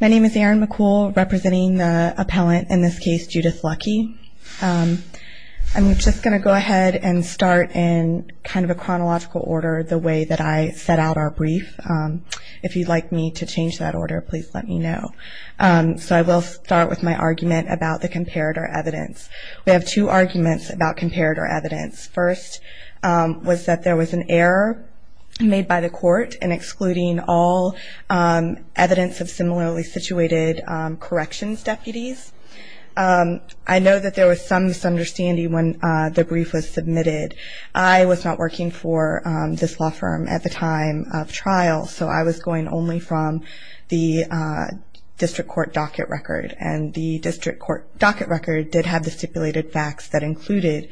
My name is Erin McCool, representing the appellant, in this case, Judith Lucke. I'm just going to go ahead and start in kind of a chronological order the way that I set out our brief. If you'd like me to change that order, please let me know. So I will start with my argument about the comparator evidence. We have two arguments about comparator evidence. First was that there was an error made by the court in excluding all evidence of similarly situated corrections deputies. I know that there was some misunderstanding when the brief was submitted. I was not working for this law firm at the time of trial, so I was going only from the district court docket record. And the district court docket record did have the stipulated facts that included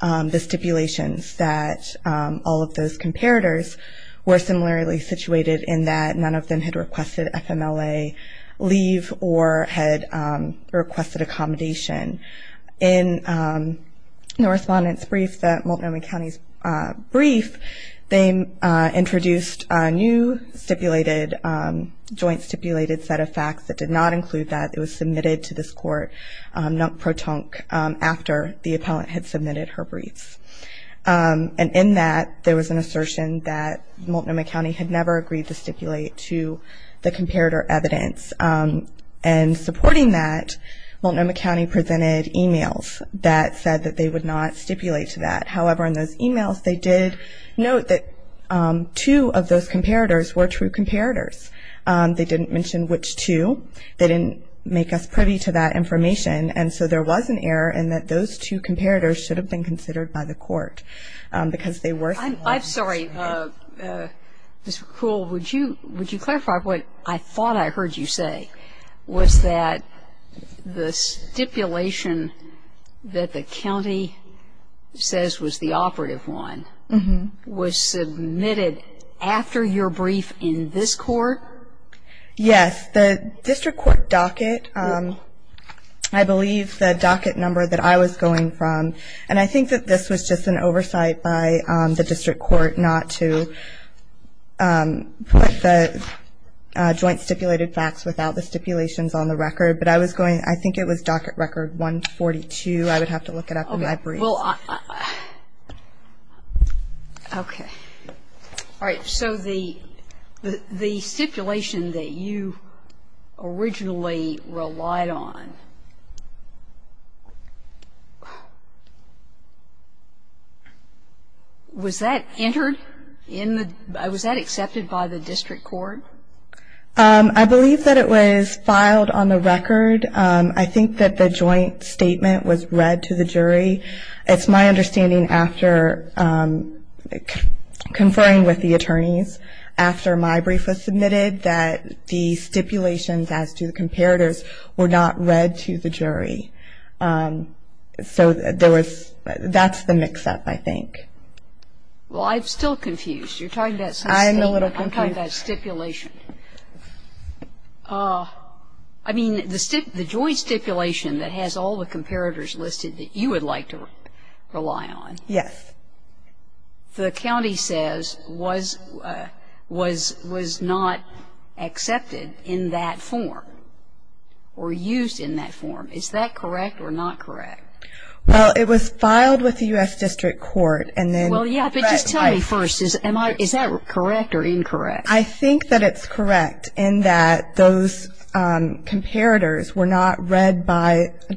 the stipulations that all of those comparators were similarly situated in that none of them had requested FMLA leave or had requested accommodation. In the respondent's brief, the Multnomah County had never agreed to stipulate to the comparator evidence. And supporting that, Multnomah County presented emails that said that they would not stipulate to that. However, in those emails, they did note that two of those comparators were true comparators. They didn't mention which two. They didn't make us privy to that information. And so there was an error in that those two comparators should have been considered by the court because they were similar. I'm sorry, Ms. McCrull, would you clarify what I thought I heard you say was that the stipulation that the county says was the operative one was submitted after your brief in this court? Yes. The district court docket, I believe the docket number that I was going from, and I think that this was just an oversight by the district court not to put the joint stipulated facts without the stipulations on the record, but I was going I think it was docket record 142. I would have to look it up in my brief. Well, okay. All right. So the stipulation that you originally relied on, was that entered in the was that accepted by the district court? I believe that it was filed on the record. I think that the joint statement was read to the jury. It's my understanding after conferring with the attorneys, after my brief was submitted, that the stipulations as to the comparators were not read to the jury. So that's the mix-up, I think. Well, I'm still confused. You're talking about some statement. I'm a little confused. I'm talking about stipulation. I mean, the joint stipulation that has all the comparators listed that you would like to rely on. Yes. The county says was not accepted in that form or used in that form. Is that correct or not correct? Well, it was filed with the U.S. District Court. Well, yeah, but just tell me first, is that correct or incorrect? I think that it's correct in that those comparators were not read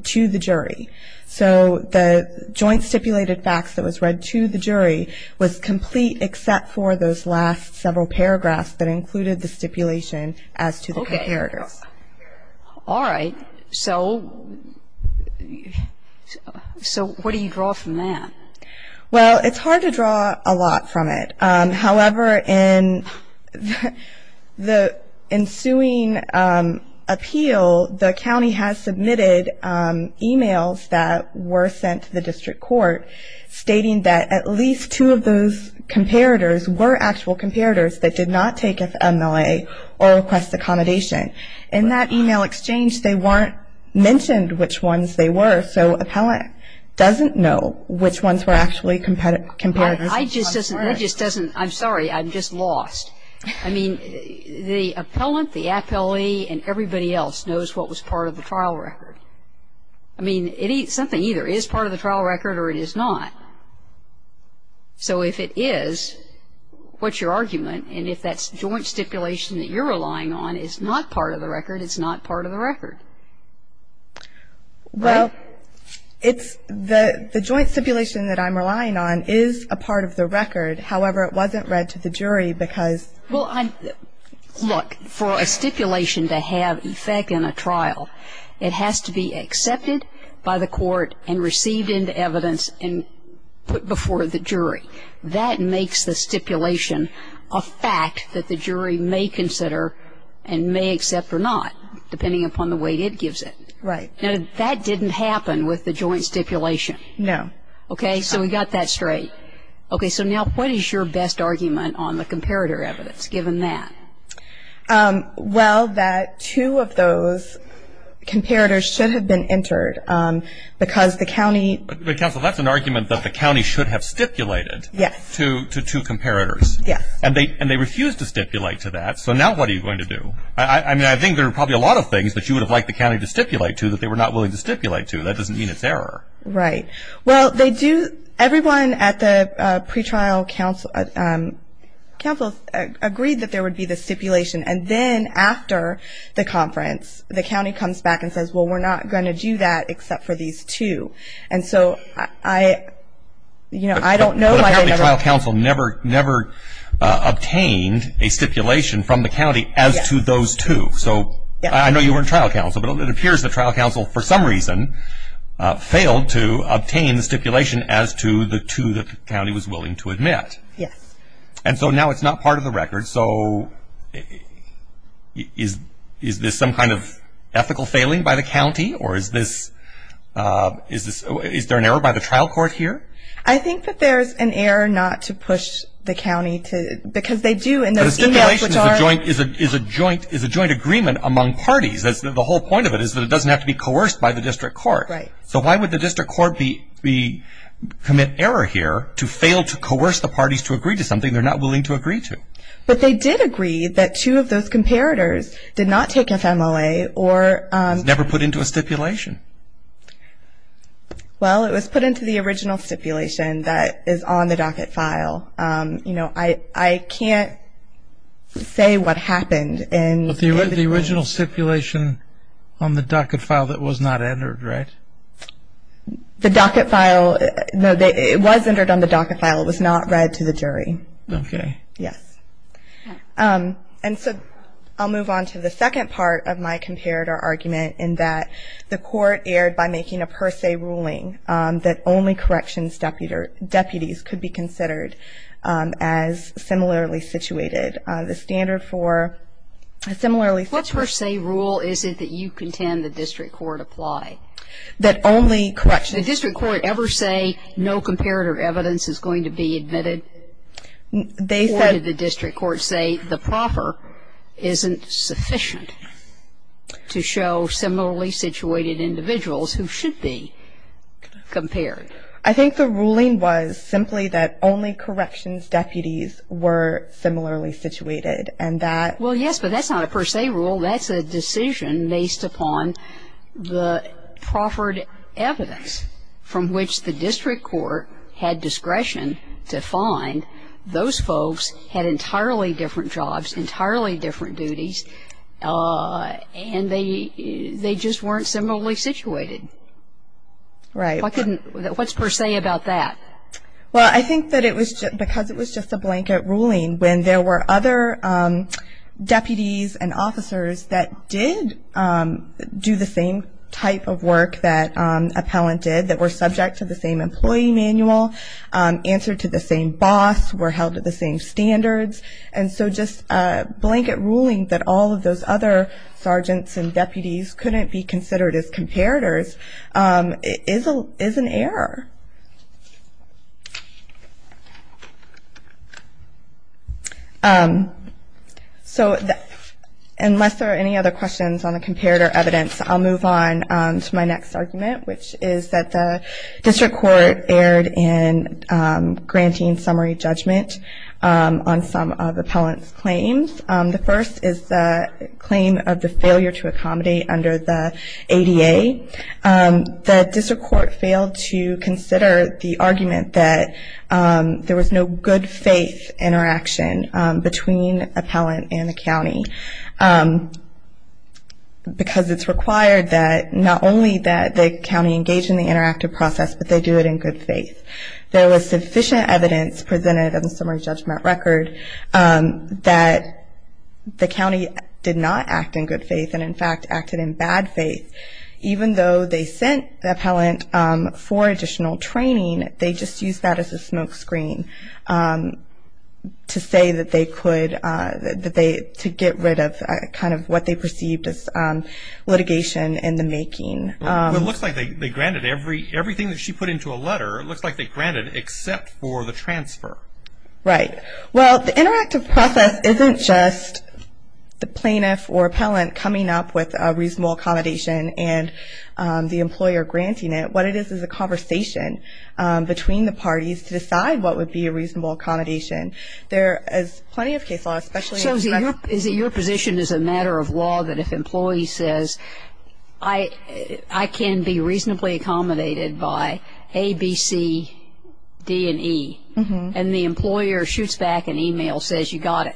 to the jury. So the joint stipulated facts that was read to the jury was complete except for those last several paragraphs All right. So what do you draw from that? Well, it's hard to draw a lot from it. However, in the ensuing appeal, the county has submitted e-mails that were sent to the district court stating that at least two of those comparators were actual comparators that did not take FMLA or request accommodation. In that e-mail exchange, they weren't mentioned which ones they were, so appellant doesn't know which ones were actually comparators. That just doesn't, that just doesn't, I'm sorry, I'm just lost. I mean, the appellant, the appellee, and everybody else knows what was part of the trial record. I mean, it's something either is part of the trial record or it is not. So if it is, what's your argument? And if that joint stipulation that you're relying on is not part of the record, it's not part of the record. Well, it's the joint stipulation that I'm relying on is a part of the record. However, it wasn't read to the jury because Well, look, for a stipulation to have effect in a trial, it has to be accepted by the court and received into evidence and put before the jury. That makes the stipulation a fact that the jury may consider and may accept or not, depending upon the way it gives it. Right. Now, that didn't happen with the joint stipulation. No. Okay, so we got that straight. Okay, so now what is your best argument on the comparator evidence, given that? Well, that two of those comparators should have been entered because the county But counsel, that's an argument that the county should have stipulated to two comparators. Yes. And they refused to stipulate to that. So now what are you going to do? I mean, I think there are probably a lot of things that you would have liked the county to stipulate to that they were not willing to stipulate to. That doesn't mean it's error. Right. Well, everyone at the pretrial council agreed that there would be the stipulation, and then after the conference, the county comes back and says, well, we're not going to do that except for these two. And so I don't know. The trial council never obtained a stipulation from the county as to those two. So I know you were in trial council, but it appears the trial council, for some reason, failed to obtain the stipulation as to the two that the county was willing to admit. Yes. And so now it's not part of the record. So is this some kind of ethical failing by the county? Or is there an error by the trial court here? I think that there's an error not to push the county, because they do, but a stipulation is a joint agreement among parties. The whole point of it is that it doesn't have to be coerced by the district court. Right. So why would the district court commit error here to fail to coerce the parties to agree to something they're not willing to agree to? But they did agree that two of those comparators did not take FMLA or ñ It was never put into a stipulation. Well, it was put into the original stipulation that is on the docket file. I can't say what happened. But the original stipulation on the docket file that was not entered, right? The docket file, no, it was entered on the docket file. It was not read to the jury. Okay. Yes. And so I'll move on to the second part of my comparator argument in that the court erred by making a per se ruling that only corrections deputies could be considered as similarly situated. The standard for similarly situated ñ What per se rule is it that you contend the district court apply? That only corrections ñ Did the district court ever say no comparator evidence is going to be admitted? They said ñ Or did the district court say the proffer isn't sufficient to show similarly situated individuals who should be? Compared. I think the ruling was simply that only corrections deputies were similarly situated and that ñ Well, yes, but that's not a per se rule. That's a decision based upon the proffered evidence from which the district court had discretion to find those folks had entirely different jobs, entirely different duties, and they just weren't similarly situated. Right. Why couldn't ñ what's per se about that? Well, I think that it was ñ because it was just a blanket ruling when there were other deputies and officers that did do the same type of work that appellant did, that were subject to the same employee manual, answered to the same boss, were held to the same standards. And so just a blanket ruling that all of those other sergeants and deputies couldn't be considered as comparators is an error. So unless there are any other questions on the comparator evidence, I'll move on to my next argument, which is that the district court erred in granting summary judgment on some of the appellant's claims. The first is the claim of the failure to accommodate under the ADA. The district court failed to consider the argument that there was no good faith interaction between appellant and the county because it's required that not only that the county engage in the interactive process, but they do it in good faith. There was sufficient evidence presented in the summary judgment record that the county did not act in good faith and, in fact, acted in bad faith. Even though they sent the appellant for additional training, they just used that as a smoke screen to say that they could ñ to get rid of kind of what they perceived as litigation in the making. Well, it looks like they granted everything that she put into a letter, it looks like they granted except for the transfer. Right. Well, the interactive process isn't just the plaintiff or appellant coming up with a reasonable accommodation and the employer granting it. What it is is a conversation between the parties to decide what would be a reasonable accommodation. There is plenty of case law, especiallyó So is it your position as a matter of law that if an employee says, I can be reasonably accommodated by A, B, C, D, and E, and the employer shoots back an email, says, you got it.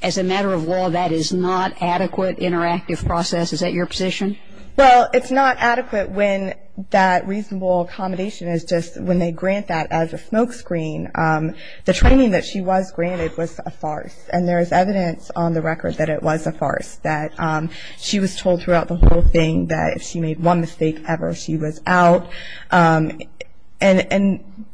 As a matter of law, that is not adequate interactive process. Is that your position? Well, it's not adequate when that reasonable accommodation is just when they grant that as a smoke screen. The training that she was granted was a farce, and there is evidence on the record that it was a farce, that she was told throughout the whole thing that if she made one mistake ever, she was out. And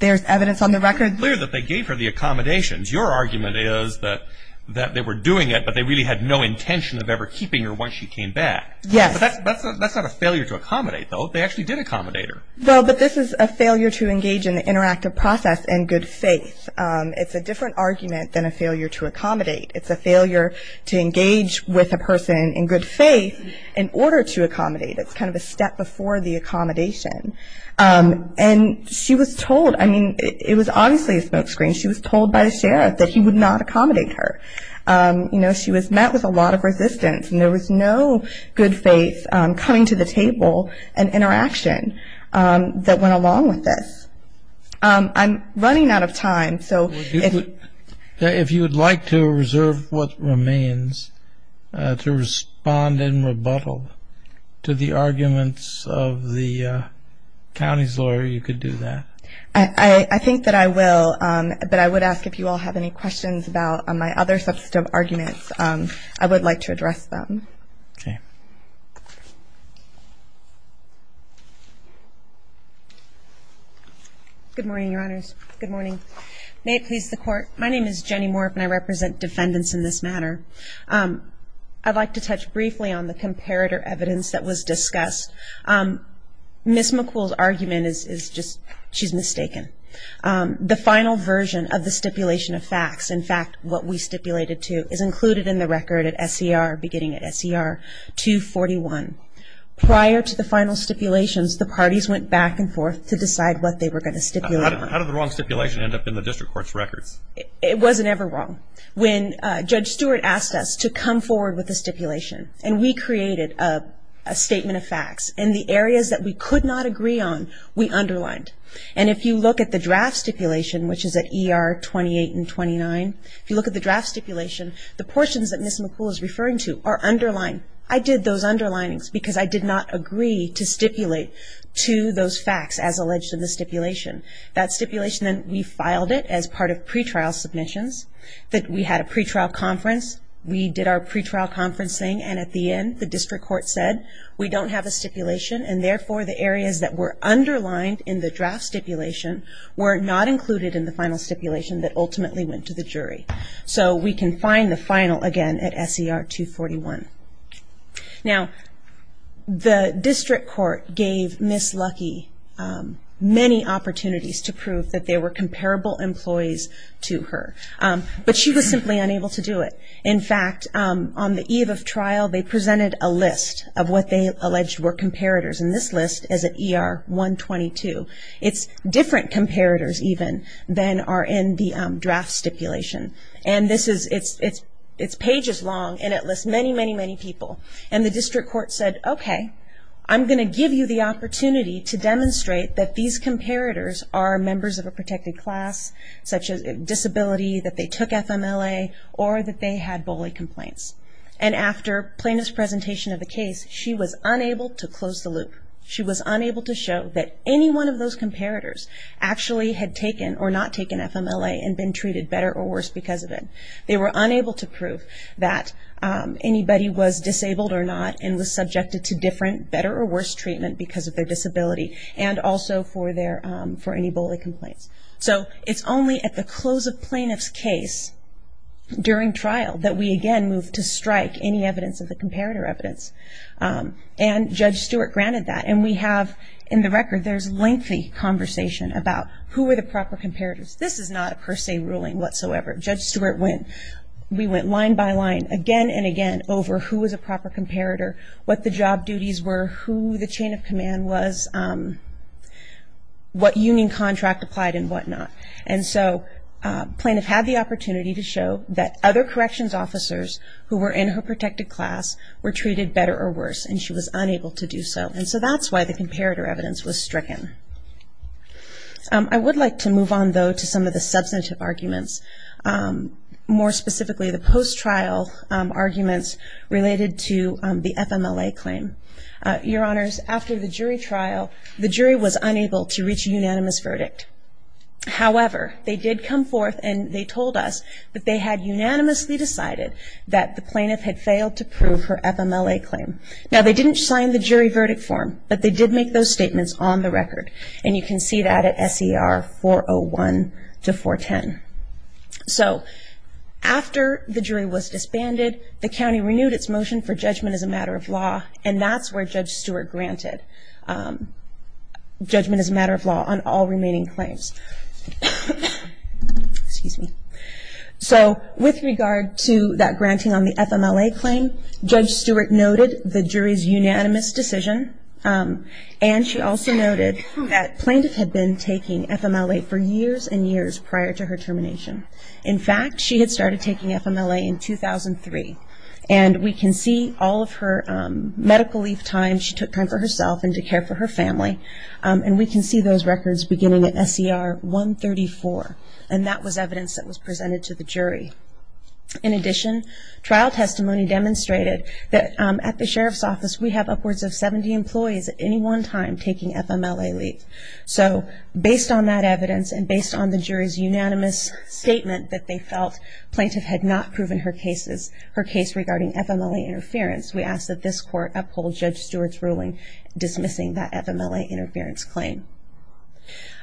there's evidence on the recordó It's clear that they gave her the accommodations. Your argument is that they were doing it, but they really had no intention of ever keeping her once she came back. Yes. But that's not a failure to accommodate, though. They actually did accommodate her. Well, but this is a failure to engage in the interactive process in good faith. It's a different argument than a failure to accommodate. It's a failure to engage with a person in good faith in order to accommodate. It's kind of a step before the accommodation. And she was toldóI mean, it was obviously a smoke screen. She was told by the sheriff that he would not accommodate her. She was met with a lot of resistance, and there was no good faith coming to the table and interaction that went along with this. I'm running out of time, so ifó If you would like to reserve what remains to respond in rebuttal to the arguments of the county's lawyer, you could do that. I think that I will, but I would ask if you all have any questions about my other substantive arguments. I would like to address them. Okay. Good morning, Your Honors. Good morning. May it please the Court. My name is Jenny Morf, and I represent defendants in this matter. I'd like to touch briefly on the comparator evidence that was discussed. Ms. McCool's argument is justóshe's mistaken. The final version of the stipulation of facts, in fact, what we stipulated to, is included in the record at SCR, beginning at SCR 241. Prior to the final stipulations, the parties went back and forth to decide what they were going to stipulate. How did the wrong stipulation end up in the district court's records? It wasn't ever wrong. When Judge Stewart asked us to come forward with a stipulation, and we created a statement of facts in the areas that we could not agree on, we underlined. And if you look at the draft stipulation, which is at ER 28 and 29, if you look at the draft stipulation, the portions that Ms. McCool is referring to are underlined. I did those underlinings because I did not agree to stipulate to those facts as alleged in the stipulation. That stipulation, we filed it as part of pretrial submissions. We had a pretrial conference. We did our pretrial conferencing. And at the end, the district court said, we don't have a stipulation. And therefore, the areas that were underlined in the draft stipulation were not included in the final stipulation that ultimately went to the jury. So we can find the final again at SCR 241. Now, the district court gave Ms. Lucky many opportunities to prove that there were comparable employees to her. But she was simply unable to do it. In fact, on the eve of trial, they presented a list of what they alleged were comparators. And this list is at ER 122. It's different comparators even than are in the draft stipulation. And it's pages long, and it lists many, many, many people. And the district court said, okay, I'm going to give you the opportunity to demonstrate that these comparators are members of a protected class, such as disability, that they took FMLA, or that they had bully complaints. And after plaintiff's presentation of the case, she was unable to close the loop. She was unable to show that any one of those comparators actually had taken or not taken FMLA and been treated better or worse because of it. They were unable to prove that anybody was disabled or not and was subjected to different better or worse treatment because of their disability and also for any bully complaints. So it's only at the close of plaintiff's case, during trial, that we again move to strike any evidence of the comparator evidence. And Judge Stewart granted that. And we have, in the record, there's lengthy conversation about who were the proper comparators. This is not a per se ruling whatsoever. Judge Stewart went, we went line by line again and again over who was a proper comparator, what the job duties were, who the chain of command was, what union contract applied and whatnot. And so plaintiff had the opportunity to show that other corrections officers who were in her protected class were treated better or worse, and she was unable to do so. And so that's why the comparator evidence was stricken. I would like to move on, though, to some of the substantive arguments, more specifically the post-trial arguments related to the FMLA claim. Your Honors, after the jury trial, the jury was unable to reach a unanimous verdict. However, they did come forth and they told us that they had unanimously decided that the plaintiff had failed to prove her FMLA claim. Now, they didn't sign the jury verdict form, but they did make those statements on the record. And you can see that at SER 401 to 410. So after the jury was disbanded, the county renewed its motion for judgment as a matter of law, and that's where Judge Stewart granted judgment as a matter of law on all remaining claims. Excuse me. So with regard to that granting on the FMLA claim, Judge Stewart noted the jury's unanimous decision, and she also noted that plaintiff had been taking FMLA for years and years prior to her termination. In fact, she had started taking FMLA in 2003. And we can see all of her medical leave time. She took time for herself and to care for her family. And we can see those records beginning at SER 134, and that was evidence that was presented to the jury. In addition, trial testimony demonstrated that at the sheriff's office, we have upwards of 70 employees at any one time taking FMLA leave. So based on that evidence and based on the jury's unanimous statement that they felt plaintiff had not proven her case regarding FMLA interference, we ask that this court uphold Judge Stewart's ruling dismissing that FMLA interference claim.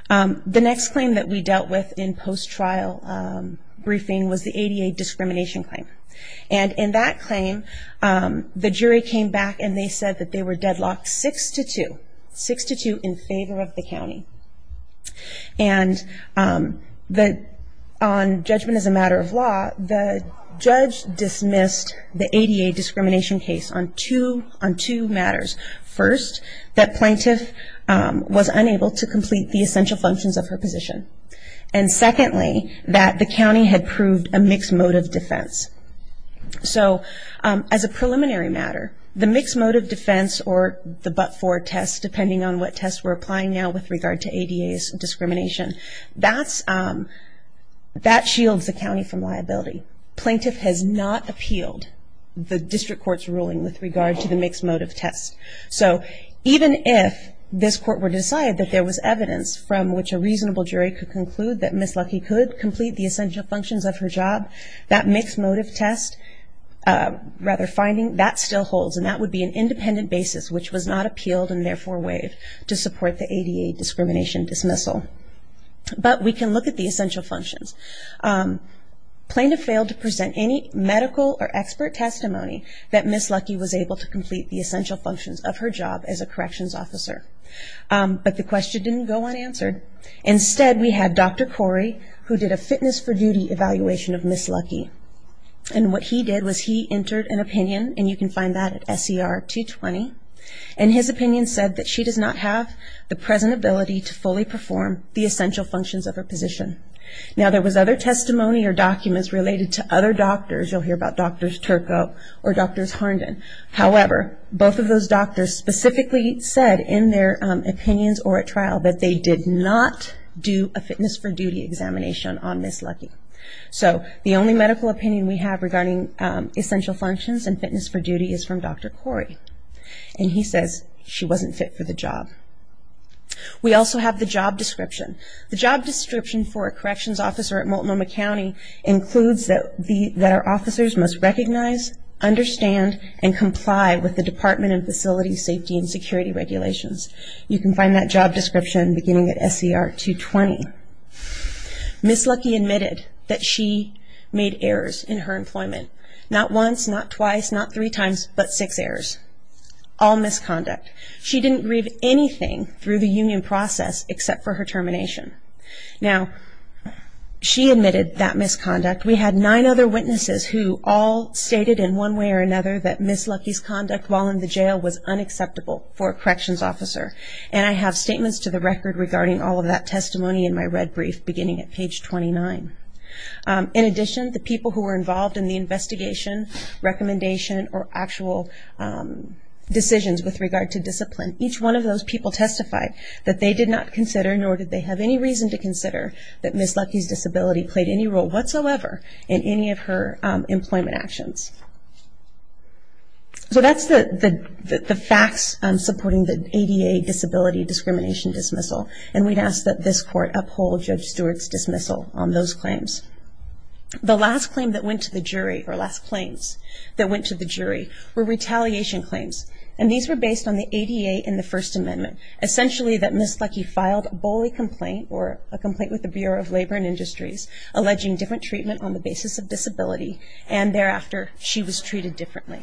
The next claim that we dealt with in post-trial briefing was the ADA discrimination claim. And in that claim, the jury came back and they said that they were deadlocked 6 to 2, 6 to 2 in favor of the county. And on judgment as a matter of law, the judge dismissed the ADA discrimination case on two matters. First, that plaintiff was unable to complete the essential functions of her position. And secondly, that the county had proved a mixed-motive defense. So as a preliminary matter, the mixed-motive defense or the but-for test, depending on what test we're applying now with regard to ADA's discrimination, that shields the county from liability. And thirdly, plaintiff has not appealed the district court's ruling with regard to the mixed-motive test. So even if this court were to decide that there was evidence from which a reasonable jury could conclude that Ms. Lucky could complete the essential functions of her job, that mixed-motive test rather finding, that still holds. And that would be an independent basis which was not appealed and therefore waived to support the ADA discrimination dismissal. But we can look at the essential functions. Plaintiff failed to present any medical or expert testimony that Ms. Lucky was able to complete the essential functions of her job as a corrections officer. But the question didn't go unanswered. Instead, we had Dr. Corey, who did a fitness for duty evaluation of Ms. Lucky. And what he did was he entered an opinion, and you can find that at SCR 220, and his opinion said that she does not have the present ability to fully perform the essential functions of her position. Now there was other testimony or documents related to other doctors. You'll hear about Drs. Turco or Drs. Harnden. However, both of those doctors specifically said in their opinions or at trial that they did not do a fitness for duty examination on Ms. Lucky. So the only medical opinion we have regarding essential functions and fitness for duty is from Dr. Corey. And he says she wasn't fit for the job. We also have the job description. The job description for a corrections officer at Multnomah County includes that our officers must recognize, understand, and comply with the department and facility safety and security regulations. You can find that job description beginning at SCR 220. Ms. Lucky admitted that she made errors in her employment, not once, not twice, not three times, but six errors, all misconduct. She didn't grieve anything through the union process except for her termination. Now she admitted that misconduct. We had nine other witnesses who all stated in one way or another that Ms. Lucky's conduct while in the jail was unacceptable for a corrections officer. And I have statements to the record regarding all of that testimony in my red brief beginning at page 29. In addition, the people who were involved in the investigation, recommendation, or actual decisions with regard to discipline, each one of those people testified that they did not consider, nor did they have any reason to consider, that Ms. Lucky's disability played any role whatsoever in any of her employment actions. So that's the facts supporting the ADA disability discrimination dismissal. And we'd ask that this court uphold Judge Stewart's dismissal on those claims. The last claim that went to the jury, or last claims that went to the jury, were retaliation claims, and these were based on the ADA and the First Amendment. Essentially that Ms. Lucky filed a bully complaint, or a complaint with the Bureau of Labor and Industries, alleging different treatment on the basis of disability, and thereafter she was treated differently.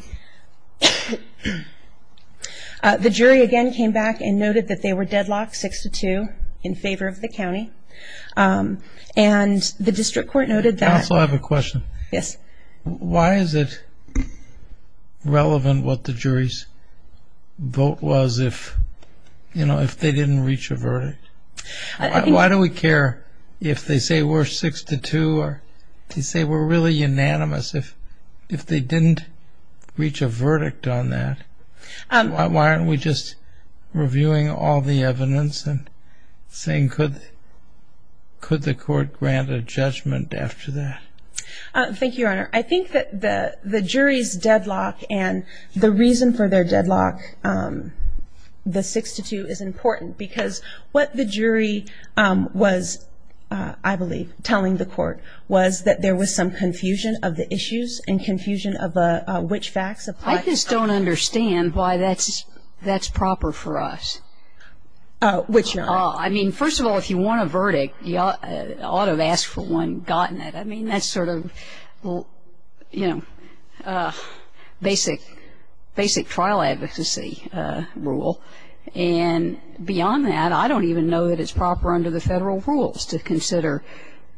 The jury again came back and noted that they were deadlocked 6-2 in favor of the county, and the district court noted that... I also have a question. Yes. Why is it relevant what the jury's vote was if, you know, if they didn't reach a verdict? Why do we care if they say we're 6-2 or if they say we're really unanimous if they didn't reach a verdict on that? Why aren't we just reviewing all the evidence and saying could the court grant a judgment after that? Thank you, Your Honor. I think that the jury's deadlock and the reason for their deadlock, the 6-2, is important because what the jury was, I believe, telling the court, was that there was some confusion of the issues and confusion of which facts apply. I just don't understand why that's proper for us. Which, Your Honor? I mean, first of all, if you want a verdict, you ought to have asked for one, gotten it. I mean, that's sort of, you know, basic trial advocacy rule. And beyond that, I don't even know that it's proper under the federal rules to consider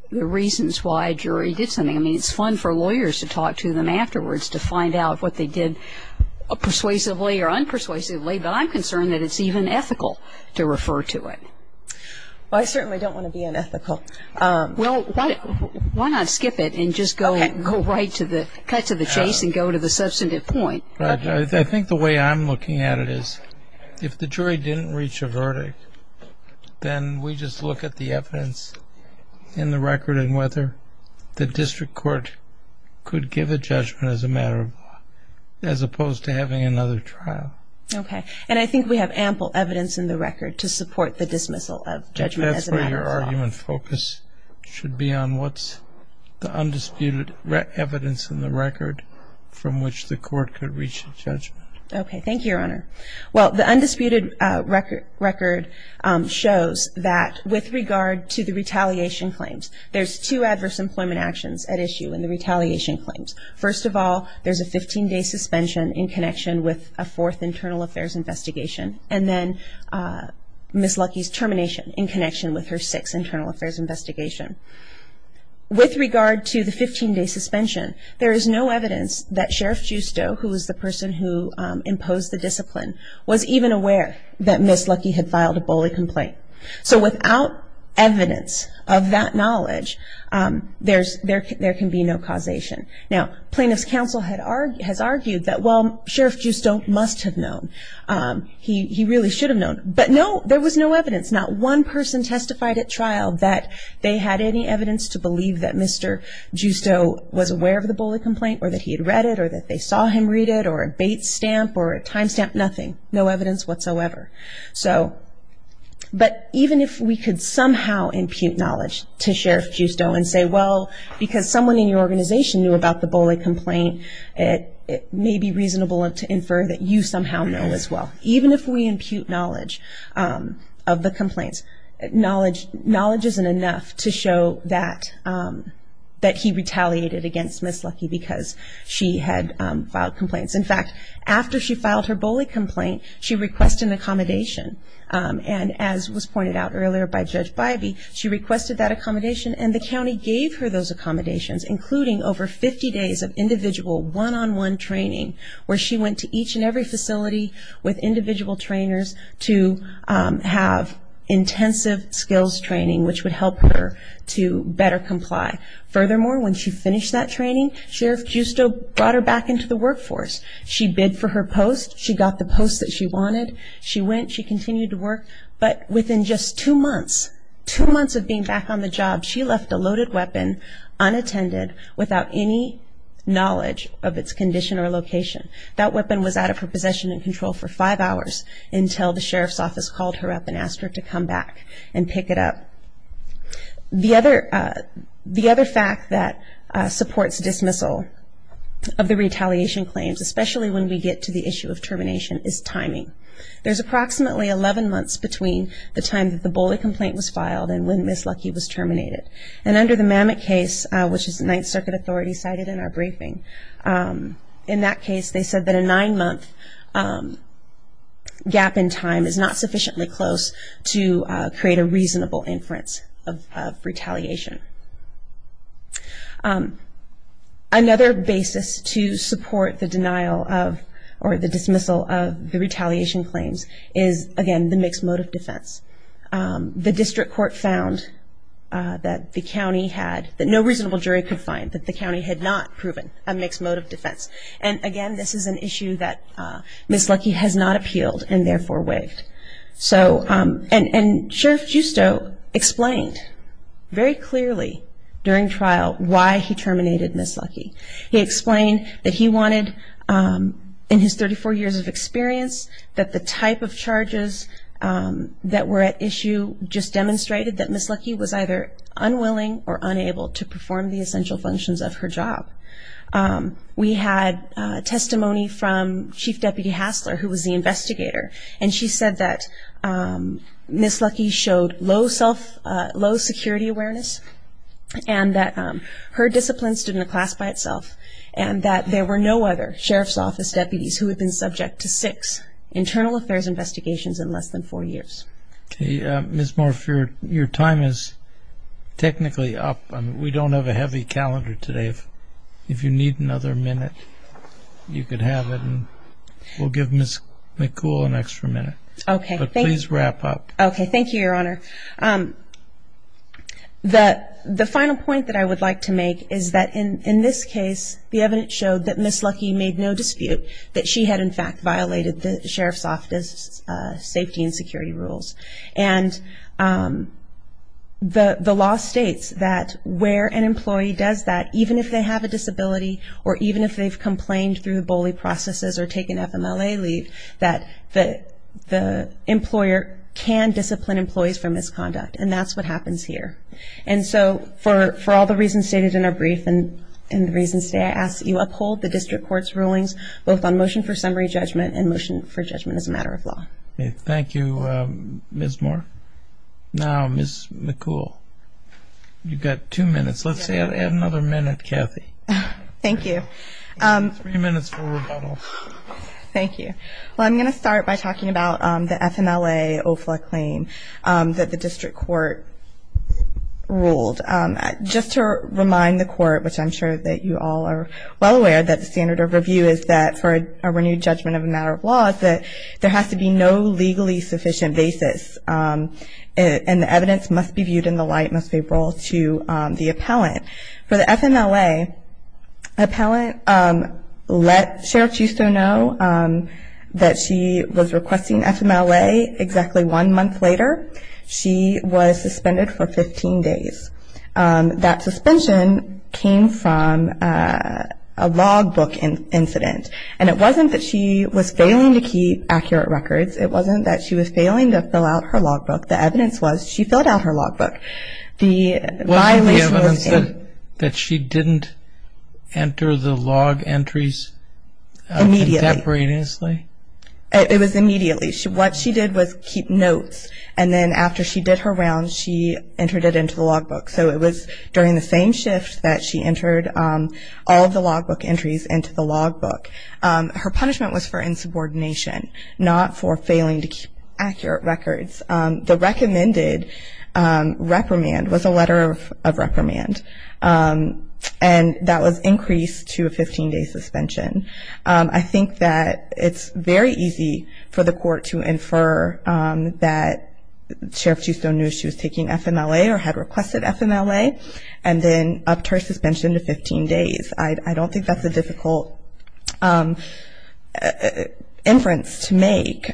the reasons why a jury did something. I mean, it's fun for lawyers to talk to them afterwards to find out what they did persuasively or unpersuasively, but I'm concerned that it's even ethical to refer to it. Well, I certainly don't want to be unethical. Well, why not skip it and just go right to the, cut to the chase and go to the substantive point? I think the way I'm looking at it is if the jury didn't reach a verdict, then we just look at the evidence in the record and whether the district court could give a judgment as a matter of law, as opposed to having another trial. Okay. And I think we have ample evidence in the record to support the dismissal of judgment as a matter of law. That's where your argument focus should be on what's the undisputed evidence in the record from which the court could reach a judgment. Okay. Thank you, Your Honor. Well, the undisputed record shows that with regard to the retaliation claims, there's two adverse employment actions at issue in the retaliation claims. First of all, there's a 15-day suspension in connection with a fourth internal affairs investigation, and then Ms. Lucky's termination in connection with her sixth internal affairs investigation. With regard to the 15-day suspension, there is no evidence that Sheriff Giusto, who is the person who imposed the discipline, was even aware that Ms. Lucky had filed a bully complaint. So without evidence of that knowledge, there can be no causation. Now, plaintiff's counsel has argued that, well, Sheriff Giusto must have known. He really should have known. But no, there was no evidence. Not one person testified at trial that they had any evidence to believe that Mr. Giusto was aware of the bully complaint or that he had read it or that they saw him read it or a bait stamp or a time stamp, nothing. No evidence whatsoever. But even if we could somehow impute knowledge to Sheriff Giusto and say, well, because someone in your organization knew about the bully complaint, it may be reasonable to infer that you somehow know as well. Even if we impute knowledge of the complaints, knowledge isn't enough to show that he retaliated against Ms. Lucky because she had filed complaints. In fact, after she filed her bully complaint, she requested an accommodation. And as was pointed out earlier by Judge Bybee, she requested that accommodation, and the county gave her those accommodations, including over 50 days of individual one-on-one training where she went to each and every facility with individual trainers to have intensive skills training, which would help her to better comply. Furthermore, when she finished that training, Sheriff Giusto brought her back into the workforce. She bid for her post. She got the post that she wanted. She went. She continued to work. But within just two months, two months of being back on the job, she left a loaded weapon unattended without any knowledge of its condition or location. That weapon was out of her possession and control for five hours until the sheriff's office called her up and asked her to come back and pick it up. The other fact that supports dismissal of the retaliation claims, especially when we get to the issue of termination, is timing. There's approximately 11 months between the time that the bully complaint was filed and when Ms. Lucky was terminated. And under the Mamet case, which the Ninth Circuit Authority cited in our briefing, in that case they said that a nine-month gap in time is not sufficiently close to create a reasonable inference of retaliation. Another basis to support the denial of or the dismissal of the retaliation claims is, again, the mixed motive defense. The district court found that the county had, that no reasonable jury could find, that the county had not proven a mixed motive defense. And, again, this is an issue that Ms. Lucky has not appealed and therefore waived. And Sheriff Giusto explained very clearly during trial why he terminated Ms. Lucky. He explained that he wanted, in his 34 years of experience, that the type of charges that were at issue just demonstrated that Ms. Lucky was either unwilling or unable to perform the essential functions of her job. We had testimony from Chief Deputy Hassler, who was the investigator, and she said that Ms. Lucky showed low security awareness and that her discipline stood in a class by itself and that there were no other sheriff's office deputies who had been subject to six internal affairs investigations in less than four years. Ms. Morf, your time is technically up. We don't have a heavy calendar today. If you need another minute, you could have it. We'll give Ms. McCool an extra minute. Okay. But please wrap up. Okay. Thank you, Your Honor. The final point that I would like to make is that, in this case, the evidence showed that Ms. Lucky made no dispute that she had, in fact, violated the sheriff's office's safety and security rules. And the law states that where an employee does that, even if they have a disability or even if they've complained through bully processes or taken FMLA leave, that the employer can discipline employees for misconduct. And that's what happens here. And so for all the reasons stated in our brief and the reasons today, I ask that you uphold the district court's rulings, both on motion for summary judgment and motion for judgment as a matter of law. Thank you, Ms. Morf. Now, Ms. McCool, you've got two minutes. Let's add another minute, Kathy. Thank you. Three minutes for rebuttal. Thank you. Well, I'm going to start by talking about the FMLA OFLA claim that the district court ruled. Just to remind the court, which I'm sure that you all are well aware that the standard of review is that, for a renewed judgment of a matter of law, is that there has to be no legally sufficient basis, and the evidence must be viewed in the light most favorable to the appellant. For the FMLA, an appellant let Sheriff Schuster know that she was requesting FMLA exactly one month later. She was suspended for 15 days. That suspension came from a logbook incident. And it wasn't that she was failing to keep accurate records. It wasn't that she was failing to fill out her logbook. The evidence was she filled out her logbook. Wasn't the evidence that she didn't enter the log entries contemporaneously? It was immediately. What she did was keep notes, and then after she did her rounds, she entered it into the logbook. So it was during the same shift that she entered all of the logbook entries into the logbook. Her punishment was for insubordination, not for failing to keep accurate records. The recommended reprimand was a letter of reprimand, and that was increased to a 15-day suspension. I think that it's very easy for the court to infer that Sheriff Schuster knew she was taking FMLA or had requested FMLA, and then upped her suspension to 15 days. I don't think that's a difficult inference to make.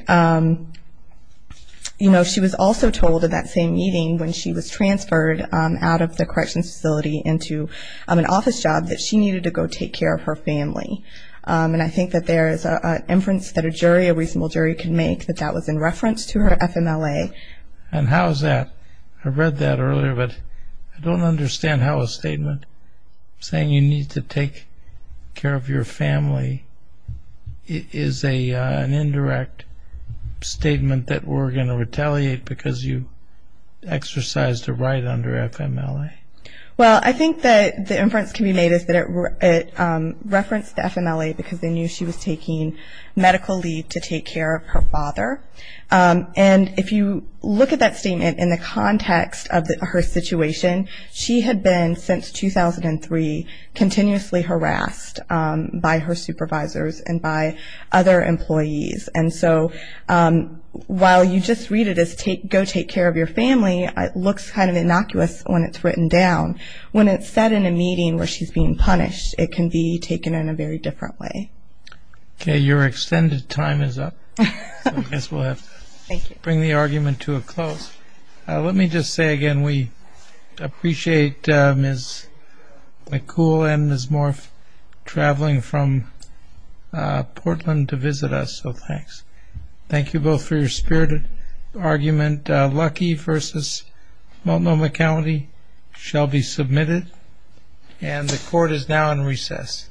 You know, she was also told in that same meeting when she was transferred out of the corrections facility into an office job that she needed to go take care of her family. And I think that there is an inference that a jury, a reasonable jury, can make that that was in reference to her FMLA. And how is that? I read that earlier, but I don't understand how a statement saying you need to take care of your family is an indirect statement that we're going to retaliate because you exercised a right under FMLA. Well, I think that the inference can be made is that it referenced FMLA because they knew she was taking medical leave to take care of her father. And if you look at that statement in the context of her situation, she had been since 2003 continuously harassed by her supervisors and by other employees. And so while you just read it as go take care of your family, it looks kind of innocuous when it's written down. When it's said in a meeting where she's being punished, it can be taken in a very different way. Okay, your extended time is up. I guess we'll have to bring the argument to a close. Let me just say again we appreciate Ms. McCool and Ms. Morf traveling from Portland to visit us, so thanks. Thank you both for your spirited argument. Lucky v. Multnomah County shall be submitted. And the court is now in recess.